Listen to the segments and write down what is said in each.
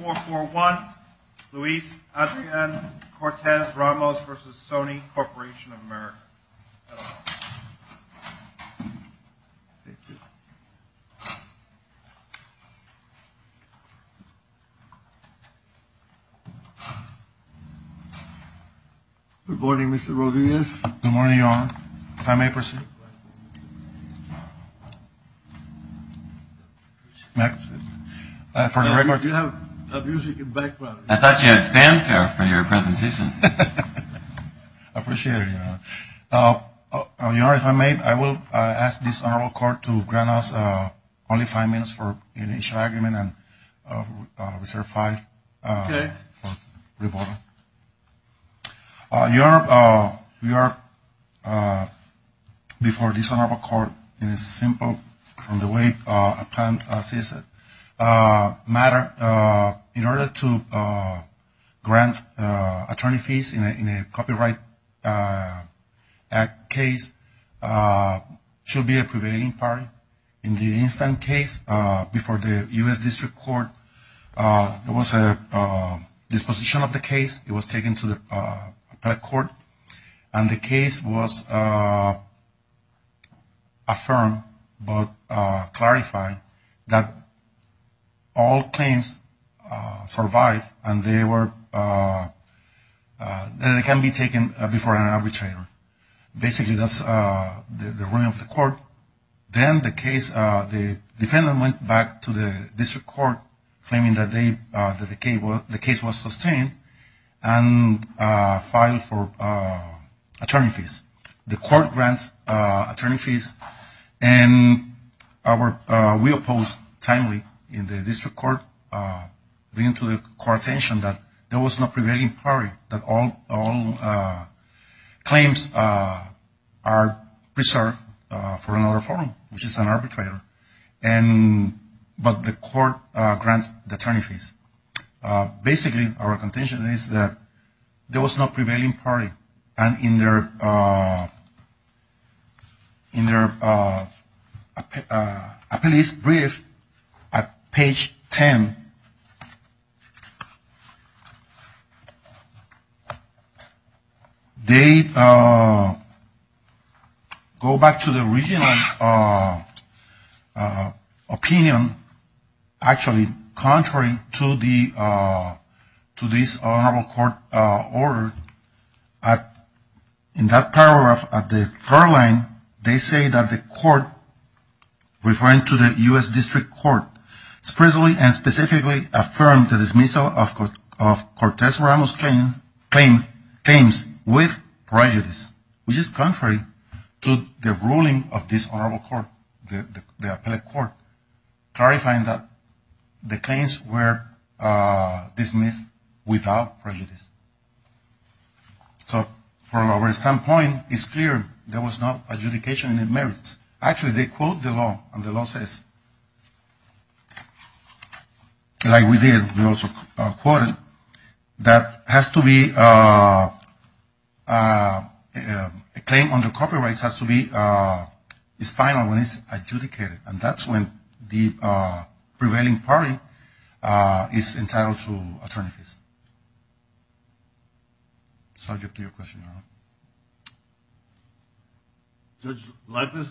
Good morning Mr. Rodriguez. Good morning Your Honor. If I may proceed. I thought you had fanfare for your presentation. I appreciate it Your Honor. Your Honor, if I may, I will ask this honorable court to grant us only five minutes for initial argument and reserve five for rebuttal. Your Honor, we are before this honorable court in a simple, from the way I planned to say it, matter. In order to grant attorney fees in a copyright act case should be a prevailing party. In the instance case before the U.S. District Court, there was a disposition of the case. It was taken to the appellate court and the case was affirmed but clarified that all claims survived and they were, they can be taken before an arbitrator. Basically that's the ruling of the court. Then the case, the defendant went back to the district court claiming that the case was sustained and filed for attorney fees. The court grants attorney fees and we oppose timely in the district court bringing to the court attention that there was no prevailing party, that all claims are preserved for another forum, which is an arbitrator. But the court grants the attorney fees. Basically our contention is that there was no prevailing party and in their brief at page 10, they go back to the original opinion, actually contrary to this honorable court order. In that paragraph at the third line, they say that the court referring to the U.S. District Court, specifically and specifically affirmed the dismissal of Cortez-Ramos claims with prejudice, which is contrary to the ruling of this honorable court, the appellate court, clarifying that the claims were dismissed without prejudice. So from our standpoint, it's clear there was no adjudication in the merits. Actually, they quote the law and the law says, like we did, we also quoted, that has to be a claim under copyrights has to be final when it's adjudicated. And that's when the prevailing party is entitled to attorney fees. So I'll get to your question now. Judge Leibniz?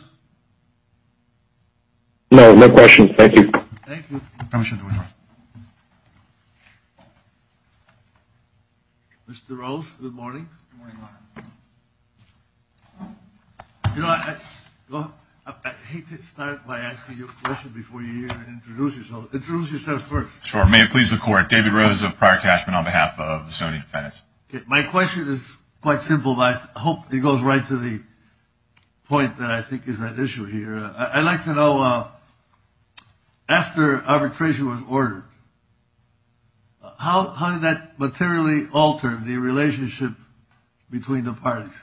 No, no questions. Thank you. Thank you. Permission to interrupt. Mr. Rose, good morning. Good morning, Your Honor. You know, I hate to start by asking you a question before you introduce yourself. Introduce yourself first. Sure. May it please the court. David Rose of Pryor-Cashman on behalf of the Sony defense. My question is quite simple, but I hope it goes right to the point that I think is at issue here. I'd like to know, after arbitration was ordered, how did that materially alter the relationship between the parties?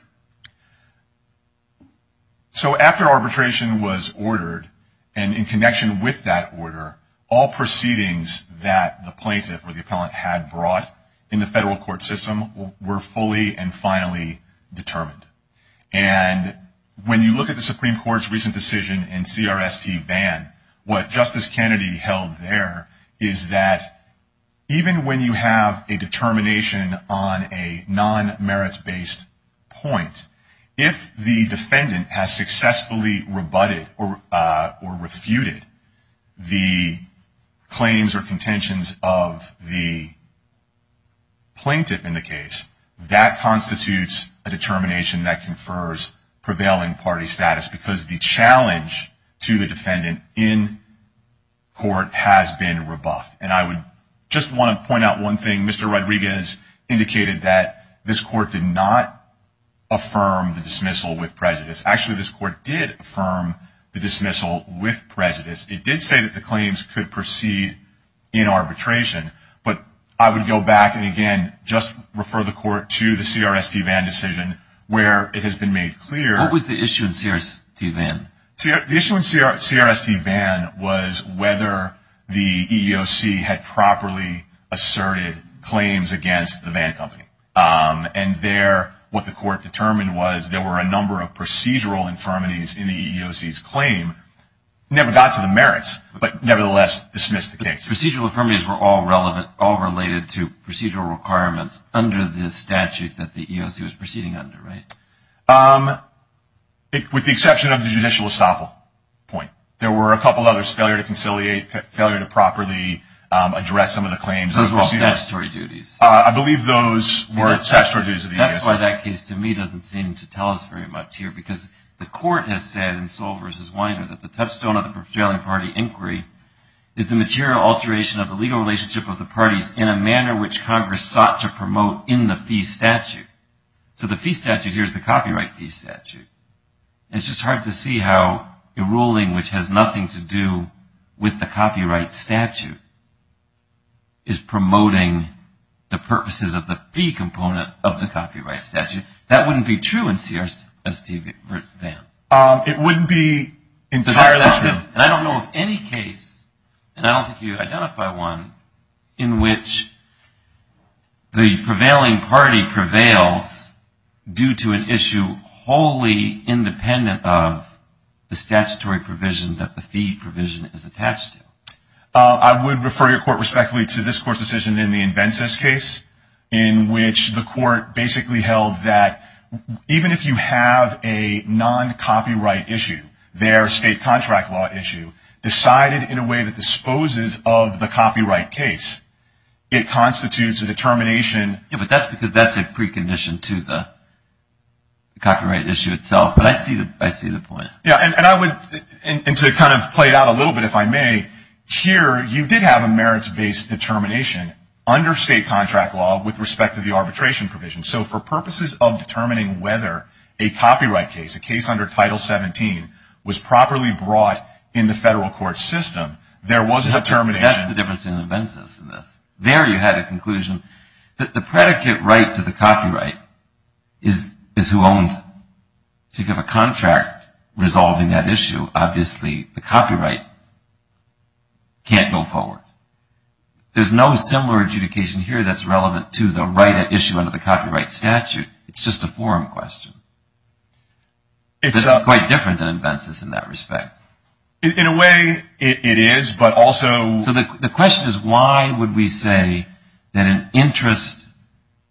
So after arbitration was ordered, and in connection with that order, all proceedings that the plaintiff or the appellant had brought in the federal court system were fully and finally determined. And when you look at the Supreme Court's recent decision in CRST-VAN, what Justice Kennedy held there is that even when you have a determination on a non-merits-based point, if the defendant has successfully rebutted or refuted the claims or contentions of the plaintiff in the case, that constitutes a determination that confers prevailing party status because the challenge to the defendant in court has been rebuffed. And I would just want to point out one thing. Mr. Rodriguez indicated that this court did not affirm the dismissal with prejudice. Actually, this court did affirm the dismissal with prejudice. It did say that the claims could proceed in arbitration. But I would go back and, again, just refer the court to the CRST-VAN decision where it has been made clear. What was the issue in CRST-VAN? The issue in CRST-VAN was whether the EEOC had properly asserted claims against the van company. And there, what the court determined was there were a number of procedural infirmities in the EEOC's claim, never got to the merits, but nevertheless dismissed the case. Procedural infirmities were all relevant, all related to procedural requirements under the statute that the EEOC was proceeding under, right? With the exception of the judicial estoppel point. There were a couple others, failure to conciliate, failure to properly address some of the claims. Those were statutory duties. I believe those were statutory duties of the EEOC. That's why that case, to me, doesn't seem to tell us very much here because the court has said in Sol v. Weiner that the touchstone of the prevailing party inquiry is the material alteration of the legal relationship of the parties in a manner which Congress sought to promote in the fee statute. So the fee statute, here's the copyright fee statute. It's just hard to see how a ruling which has nothing to do with the copyright statute is promoting the purposes of the fee component of the copyright statute. That wouldn't be true in CRST-VAN. It wouldn't be entirely true. And I don't know of any case, and I don't think you identify one, in which the prevailing party prevails due to an issue wholly independent of the statutory provision that the fee provision is attached to. I would refer your court respectfully to this court's decision in the Invences case, in which the court basically held that even if you have a non-copyright issue, their state contract law issue decided in a way that disposes of the copyright case, it constitutes a determination. Yeah, but that's because that's a precondition to the copyright issue itself. But I see the point. Yeah, and I would, and to kind of play it out a little bit if I may, here you did have a merits-based determination under state contract law with respect to the arbitration provision. So for purposes of determining whether a copyright case, a case under Title 17, was properly brought in the federal court system, there was a determination. Yeah, but that's the difference in Invences in this. There you had a conclusion that the predicate right to the copyright is who owns it. If you have a contract resolving that issue, obviously the copyright can't go forward. There's no similar adjudication here that's relevant to the right at issue under the copyright statute. It's just a forum question. It's quite different than Invences in that respect. In a way, it is, but also. So the question is why would we say that an interest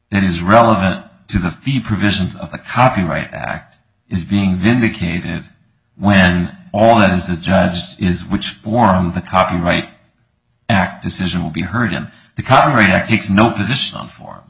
that is relevant to the fee provisions of the Copyright Act is being vindicated when all that is adjudged is which forum the Copyright Act decision will be heard in? The Copyright Act takes no position on forum.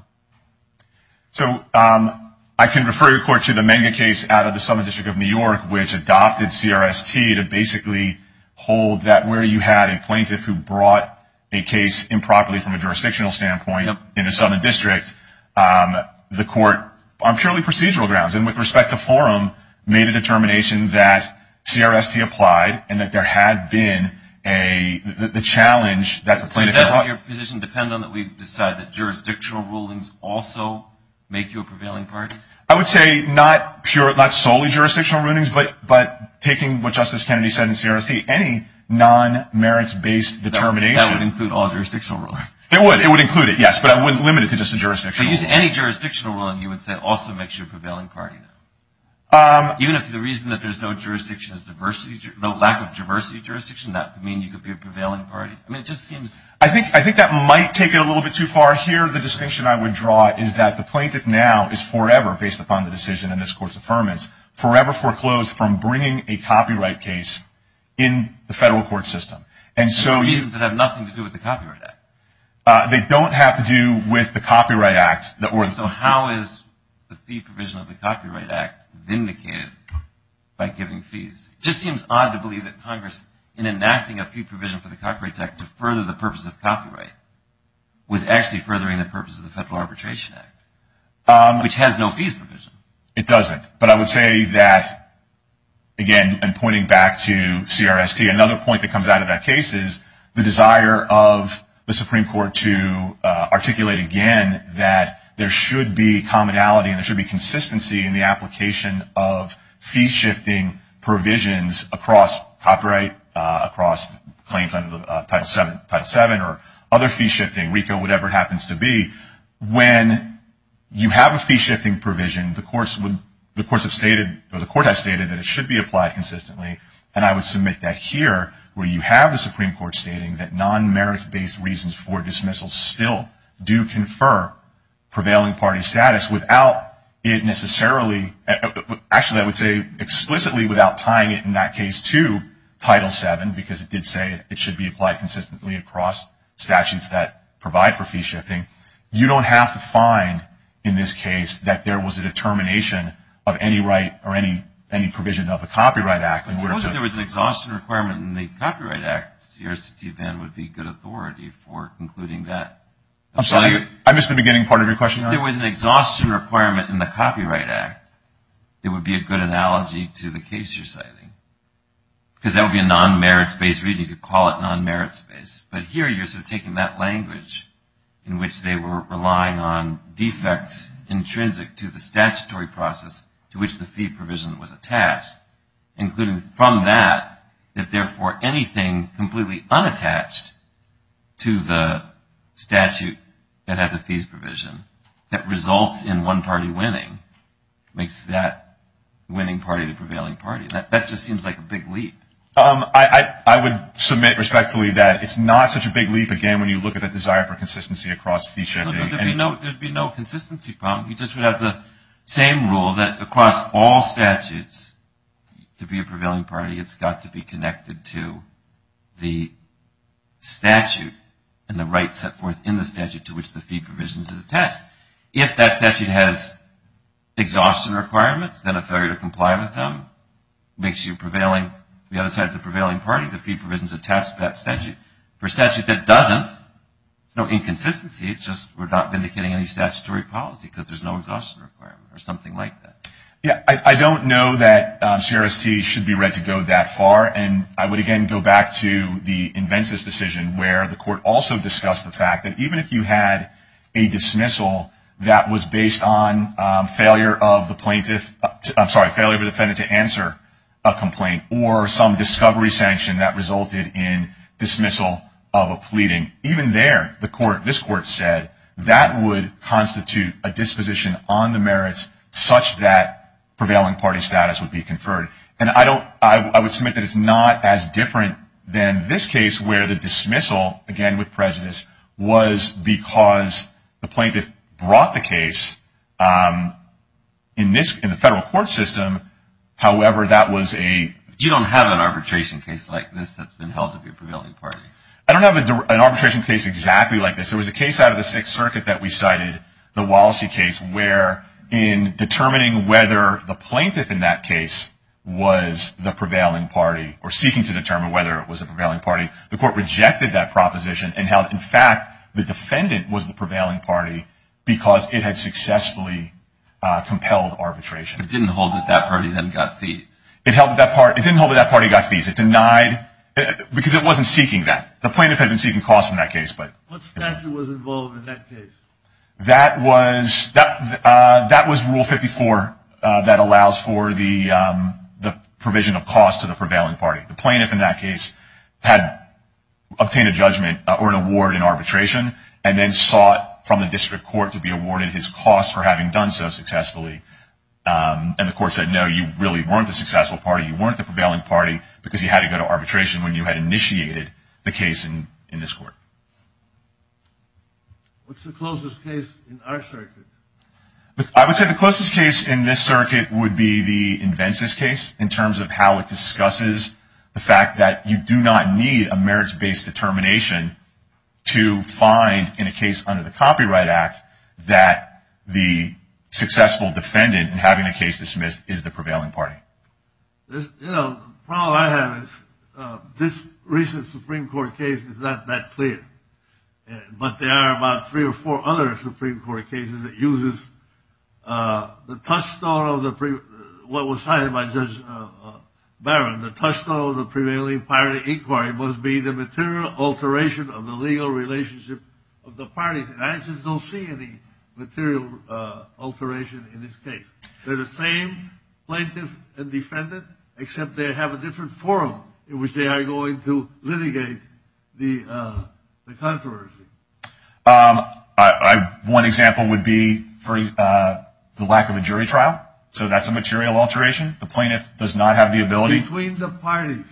So I can refer your court to the Menge case out of the Southern District of New York, which adopted CRST to basically hold that where you had a plaintiff who brought a case improperly from a jurisdictional standpoint in the Southern District, the court on purely procedural grounds. And with respect to forum, made a determination that CRST applied and that there had been the challenge that the plaintiff had brought. Does that position depend on that we decide that jurisdictional rulings also make you a prevailing party? I would say not solely jurisdictional rulings, but taking what Justice Kennedy said in CRST, any non-merits-based determination. That would include all jurisdictional rulings. It would. It would include it, yes, but I wouldn't limit it to just a jurisdictional ruling. If you use any jurisdictional ruling, you would say also makes you a prevailing party. Even if the reason that there's no jurisdiction is diversity, no lack of diversity jurisdiction, that could mean you could be a prevailing party? I mean, it just seems. I think that might take it a little bit too far here. The distinction I would draw is that the plaintiff now is forever, based upon the decision in this court's affirmance, forever foreclosed from bringing a copyright case in the federal court system. And so. Reasons that have nothing to do with the Copyright Act. They don't have to do with the Copyright Act. So how is the fee provision of the Copyright Act vindicated by giving fees? It just seems odd to believe that Congress, in enacting a fee provision for the Copyright Act to further the purpose of copyright, was actually furthering the purpose of the Federal Arbitration Act, which has no fees provision. It doesn't. But I would say that, again, and pointing back to CRST, another point that comes out of that case is the desire of the Supreme Court to articulate, again, that there should be commonality and there should be consistency in the application of fee-shifting provisions across copyright, across claims under Title VII or other fee-shifting, RICO, whatever it happens to be. When you have a fee-shifting provision, the courts have stated, that it should be applied consistently, and I would submit that here, where you have the Supreme Court stating that non-merits-based reasons for dismissal still do confer prevailing party status without it necessarily, actually I would say explicitly without tying it in that case to Title VII, because it did say it should be applied consistently across statutes that provide for fee-shifting, you don't have to find, in this case, that there was a determination of any right or any provision of the Copyright Act in order to Suppose that there was an exhaustion requirement in the Copyright Act. CRST then would be good authority for concluding that. I'm sorry, I missed the beginning part of your question. If there was an exhaustion requirement in the Copyright Act, it would be a good analogy to the case you're citing, because that would be a non-merits-based reason. You could call it non-merits-based. But here you're sort of taking that language in which they were relying on defects intrinsic to the statutory process to which the fee provision was attached, including from that, that therefore anything completely unattached to the statute that has a fees provision that results in one party winning makes that winning party the prevailing party. That just seems like a big leap. I would submit respectfully that it's not such a big leap, again, when you look at the desire for consistency across fee-shifting. There would be no consistency problem. You just would have the same rule that across all statutes, to be a prevailing party it's got to be connected to the statute and the rights set forth in the statute to which the fee provision is attached. If that statute has exhaustion requirements, then a failure to comply with them makes the other side the prevailing party. The fee provision is attached to that statute. For a statute that doesn't, there's no inconsistency. It's just we're not vindicating any statutory policy because there's no exhaustion requirement or something like that. Yeah, I don't know that CRST should be read to go that far. And I would, again, go back to the Invensys decision where the court also discussed the fact that even if you had a dismissal that was based on failure of the defendant to answer a complaint or some discovery sanction that resulted in dismissal of a pleading, even there this court said that would constitute a disposition on the merits such that prevailing party status would be conferred. And I would submit that it's not as different than this case where the dismissal, again, with prejudice, was because the plaintiff brought the case in the federal court system. However, that was a... You don't have an arbitration case like this that's been held to be a prevailing party. I don't have an arbitration case exactly like this. There was a case out of the Sixth Circuit that we cited, the Wallacey case, where in determining whether the plaintiff in that case was the prevailing party or seeking to determine whether it was a prevailing party, the court rejected that proposition and held, in fact, the defendant was the prevailing party because it had successfully compelled arbitration. It didn't hold that that party then got fees. It held that party... It didn't hold that that party got fees. It denied... Because it wasn't seeking that. The plaintiff had been seeking costs in that case, but... What statute was involved in that case? That was Rule 54 that allows for the provision of costs to the prevailing party. The plaintiff in that case had obtained a judgment or an award in arbitration and then sought from the district court to be awarded his costs for having done so successfully. And the court said, no, you really weren't the successful party. You weren't the prevailing party because you had to go to arbitration when you had initiated the case in this court. What's the closest case in our circuit? I would say the closest case in this circuit would be the Invences case in terms of how it discusses the fact that you do not need a merits-based determination to find, in a case under the Copyright Act, that the successful defendant in having a case dismissed is the prevailing party. The problem I have is this recent Supreme Court case is not that clear. But there are about three or four other Supreme Court cases that uses the touchstone of the... What was cited by Judge Barron, the touchstone of the prevailing party inquiry must be the material alteration of the legal relationship of the parties. And I just don't see any material alteration in this case. They're the same plaintiff and defendant, except they have a different forum in which they are going to litigate the controversy. One example would be the lack of a jury trial. So that's a material alteration. The plaintiff does not have the ability... Between the parties.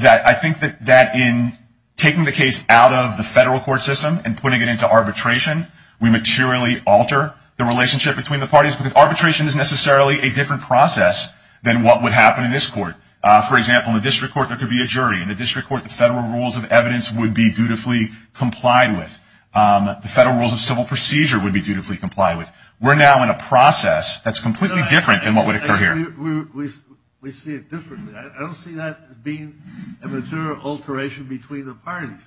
I think that in taking the case out of the federal court system and putting it into arbitration, we materially alter the relationship between the parties. Because arbitration is necessarily a different process than what would happen in this court. For example, in the district court, there could be a jury. In the district court, the federal rules of evidence would be dutifully complied with. The federal rules of civil procedure would be dutifully complied with. We're now in a process that's completely different than what would occur here. We see it differently. I don't see that being a material alteration between the parties.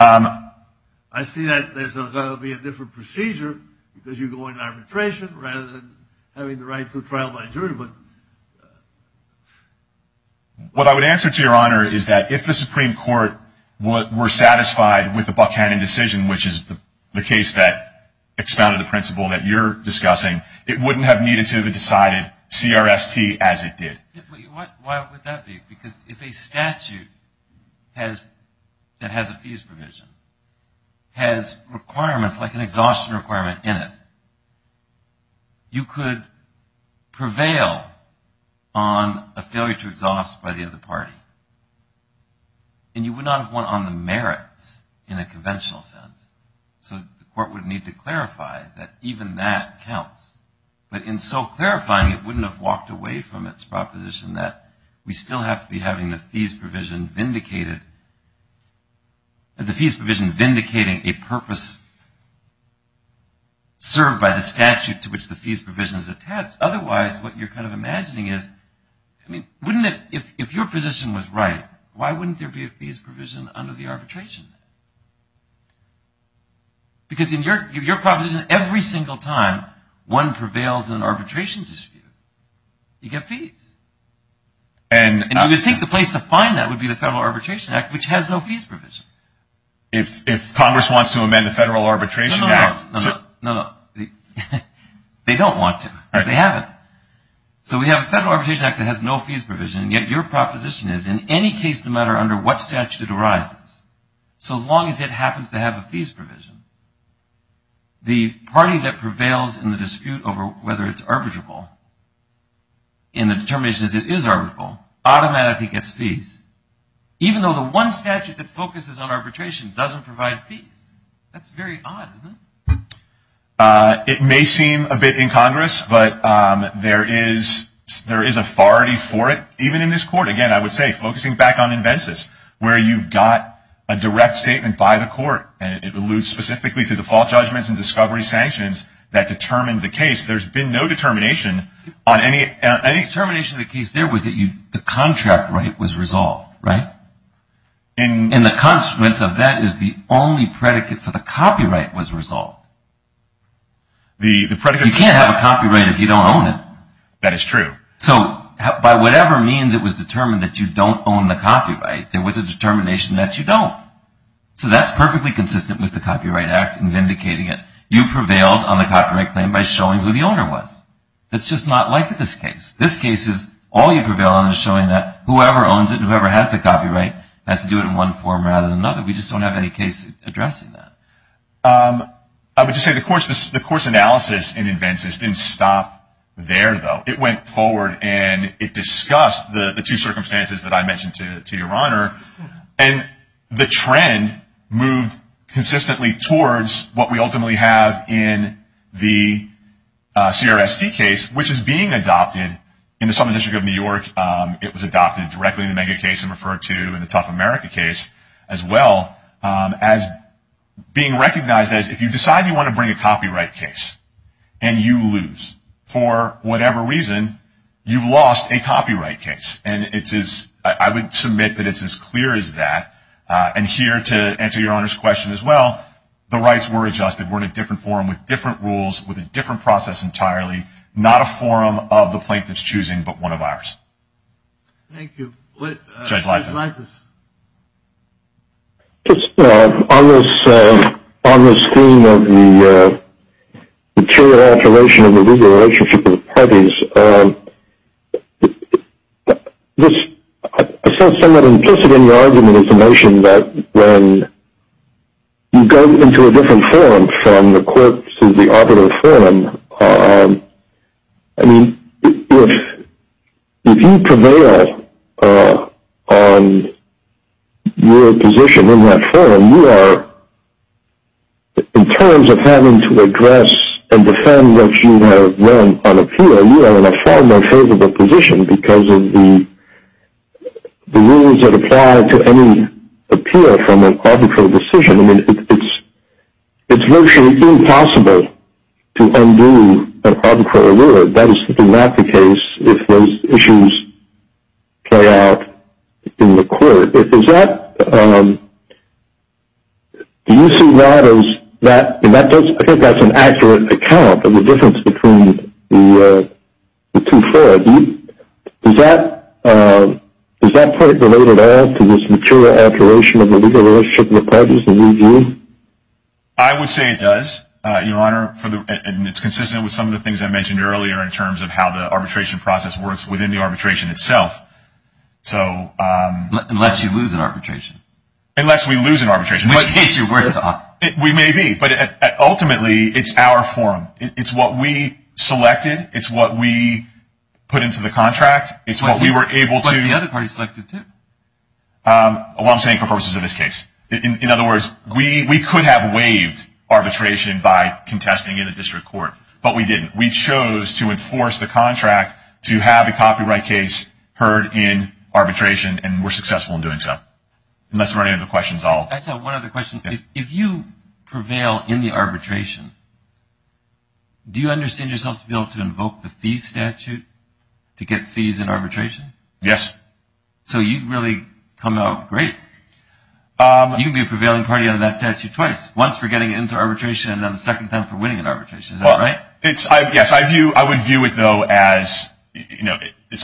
I see that there's going to be a different procedure because you go into arbitration rather than having the right to a trial by jury. What I would answer to Your Honor is that if the Supreme Court were satisfied with the Buchanan decision, which is the case that expounded the principle that you're discussing, it wouldn't have needed to have been decided CRST as it did. Why would that be? Because if a statute that has a fees provision has requirements like an exhaustion requirement in it, you could prevail on a failure to exhaust by the other party. And you would not have won on the merits in a conventional sense. So the court would need to clarify that even that counts. But in so clarifying, it wouldn't have walked away from its proposition that we still have to be having the fees provision vindicated, the fees provision vindicating a purpose served by the statute to which the fees provision is attached. Otherwise, what you're kind of imagining is, I mean, wouldn't it, if your position was right, why wouldn't there be a fees provision under the arbitration? Because in your proposition, every single time one prevails in an arbitration dispute, you get fees. And you would think the place to find that would be the Federal Arbitration Act, which has no fees provision. If Congress wants to amend the Federal Arbitration Act. No, no, no. They don't want to. They haven't. So we have a Federal Arbitration Act that has no fees provision, yet your proposition is in any case, no matter under what statute it arises, so long as it happens to have a fees provision, the party that prevails in the dispute over whether it's arbitrable, in the determinations it is arbitrable, automatically gets fees. Even though the one statute that focuses on arbitration doesn't provide fees. That's very odd, isn't it? It may seem a bit incongruous, but there is authority for it, even in this court. Again, I would say, focusing back on invences, where you've got a direct statement by the court, and it alludes specifically to the fault judgments and discovery sanctions that determined the case. There's been no determination on any. The determination of the case there was that the contract right was resolved, right? And the consequence of that is the only predicate for the copyright was resolved. You can't have a copyright if you don't own it. That is true. So by whatever means it was determined that you don't own the copyright, there was a determination that you don't. So that's perfectly consistent with the Copyright Act in vindicating it. You prevailed on the copyright claim by showing who the owner was. It's just not like this case. This case is all you prevail on is showing that whoever owns it and whoever has the copyright has to do it in one form rather than another. We just don't have any case addressing that. I would just say the court's analysis in invences didn't stop there, though. It went forward and it discussed the two circumstances that I mentioned to Your Honor, and the trend moved consistently towards what we ultimately have in the CRST case, which is being adopted in the Southern District of New York. It was adopted directly in the Mega case and referred to in the Tough America case as well as being recognized as if you decide you want to bring a copyright case and you lose, for whatever reason, you've lost a copyright case. And I would submit that it's as clear as that. And here, to answer Your Honor's question as well, the rights were adjusted. We're in a different forum with different rules, with a different process entirely, not a forum of the plaintiff's choosing but one of ours. Thank you. Judge Leibovitz. On the scheme of the material alteration of the legal relationship with the parties, I found somewhat implicit in your argument is the notion that when you go into a different forum from the court to the arbitral forum, I mean, if you prevail on your position in that forum, you are, in terms of having to address and defend what you have learned on appeal, you are in a far more favorable position because of the rules that apply to any appeal from an arbitral decision. I mean, it's virtually impossible to undo an arbitral error. That is simply not the case if those issues play out in the court. Is that, do you see that as that, and I think that's an accurate account of the difference between the two forms. Is that part related at all to this material alteration of the legal relationship with parties? I would say it does, Your Honor, and it's consistent with some of the things I mentioned earlier in terms of how the arbitration process works within the arbitration itself. Unless you lose an arbitration. Unless we lose an arbitration. In which case you're worse off. We may be, but ultimately it's our forum. It's what we selected. It's what we put into the contract. It's what we were able to. But the other party selected too. Well, I'm saying for purposes of this case. In other words, we could have waived arbitration by contesting in the district court, but we didn't. We chose to enforce the contract to have a copyright case heard in arbitration, and we're successful in doing so. Unless there are any other questions, I'll. I just have one other question. If you prevail in the arbitration, do you understand yourself to be able to invoke the fees statute to get fees in arbitration? Yes. So you'd really come out great. You'd be a prevailing party under that statute twice, once for getting into arbitration and then the second time for winning an arbitration. Is that right? Yes. I would view it, though, as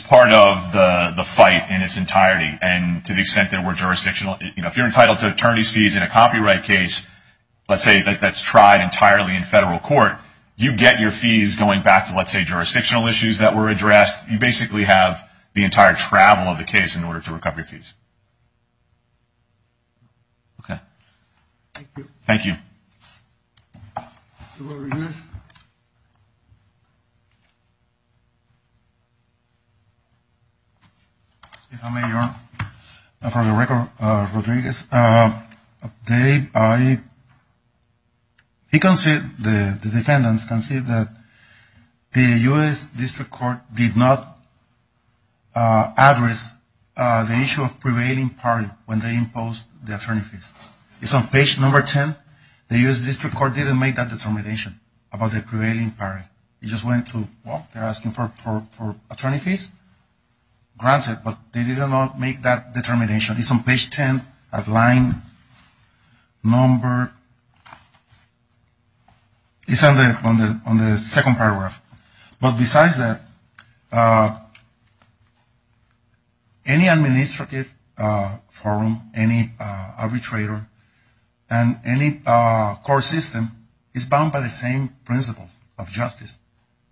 part of the fight in its entirety, and to the extent that we're jurisdictional. If you're entitled to attorney's fees in a copyright case, let's say that's tried entirely in federal court, you get your fees going back to, let's say, jurisdictional issues that were addressed. You basically have the entire travel of the case in order to recover your fees. Thank you. Thank you. Mr. Rodriguez. If I may, Your Honor. For the record, Rodriguez, the defendants can see that the U.S. District Court did not address the issue of prevailing party when they imposed the attorney fees. It's on page number 10. The U.S. District Court didn't make that determination about the prevailing party. It just went to, well, they're asking for attorney fees. Granted, but they did not make that determination. It's on page 10 of line number, it's on the second paragraph. But besides that, any administrative forum, any arbitrator, and any court system is bound by the same principles of justice.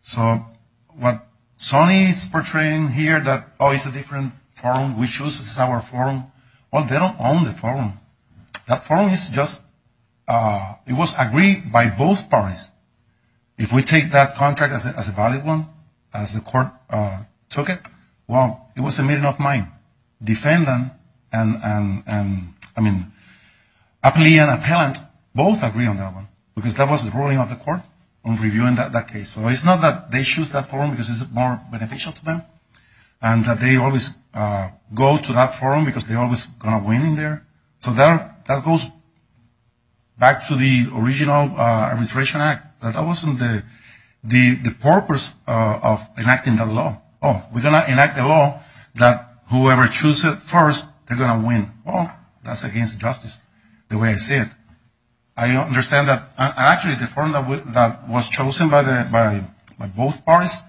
So what Sonny is portraying here that, oh, it's a different forum, we choose, this is our forum. Well, they don't own the forum. That forum is just, it was agreed by both parties. If we take that contract as a valid one, as the court took it, well, it was a meeting of mine. Defendant and, I mean, a plea and appellant both agree on that one because that was the ruling of the court on reviewing that case. So it's not that they choose that forum because it's more beneficial to them and that they always go to that forum because they're always going to win in there. So that goes back to the original Arbitration Act. That wasn't the purpose of enacting that law. Oh, we're going to enact a law that whoever chooses it first, they're going to win. Well, that's against justice, the way I see it. I understand that. Actually, the forum that was chosen by both parties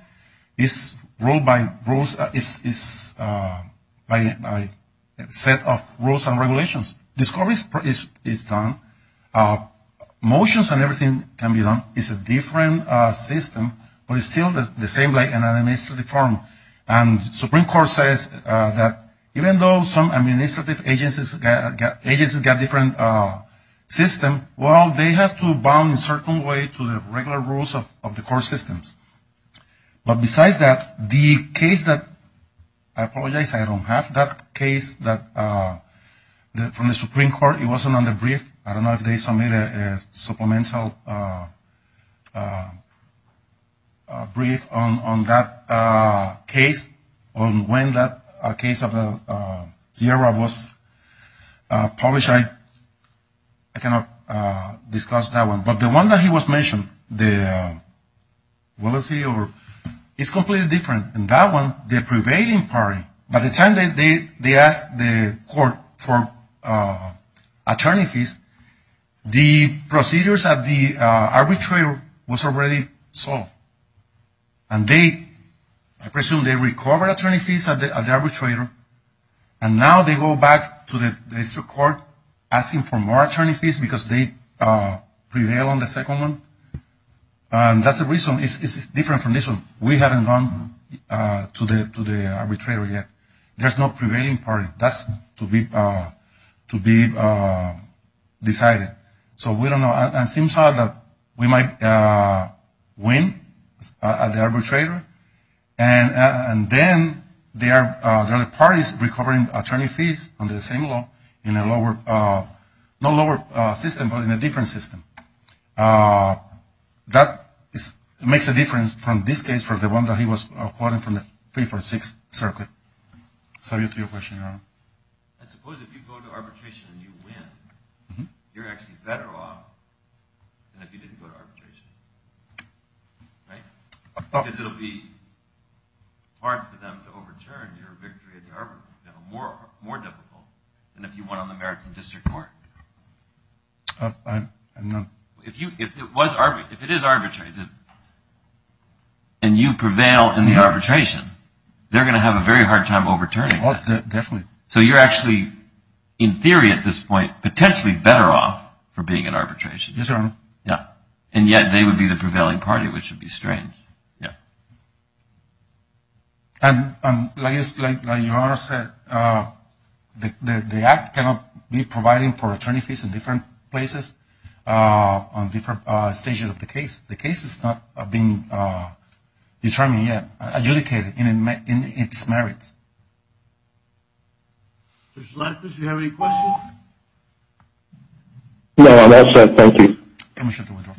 is ruled by rules, is by a set of rules and regulations. This court is done. Motions and everything can be done. It's a different system, but it's still the same like an administrative forum. And the Supreme Court says that even though some administrative agencies got different systems, well, they have to bound a certain way to the regular rules of the court systems. But besides that, the case that, I apologize, I don't have that case from the Supreme Court. It wasn't on the brief. I don't know if they submitted a supplemental brief on that case, on when that case of Sierra was published. I cannot discuss that one. But the one that he was mentioning, the Willis-Hewitt, it's completely different. In that one, the prevailing party, by the time they asked the court for attorney fees, the procedures of the arbitrator was already solved. And they, I presume they recovered attorney fees of the arbitrator, and now they go back to the district court asking for more attorney fees because they prevail on the second one. And that's the reason. It's different from this one. We haven't gone to the arbitrator yet. There's no prevailing party. That's to be decided. So we don't know. It seems that we might win at the arbitrator, and then there are parties recovering attorney fees under the same law in a lower, not lower system, but in a different system. That makes a difference from this case, from the one that he was quoting from the 346 circuit. So to your question, Your Honor. I suppose if you go to arbitration and you win, you're actually better off than if you didn't go to arbitration. Right? Because it will be hard for them to overturn your victory at the arbitration, more difficult than if you won on the merits of district court. I'm not. If it is arbitrated and you prevail in the arbitration, they're going to have a very hard time overturning that. Definitely. So you're actually, in theory at this point, potentially better off for being in arbitration. Yes, Your Honor. Yeah. And yet they would be the prevailing party, which would be strange. Yeah. And like Your Honor said, the act cannot be providing for attorney fees in different places, on different stages of the case. The case is not being determined yet, adjudicated in its merits. Judge Larkins, do you have any questions? No, that's it. Thank you. I'm going to shut the window.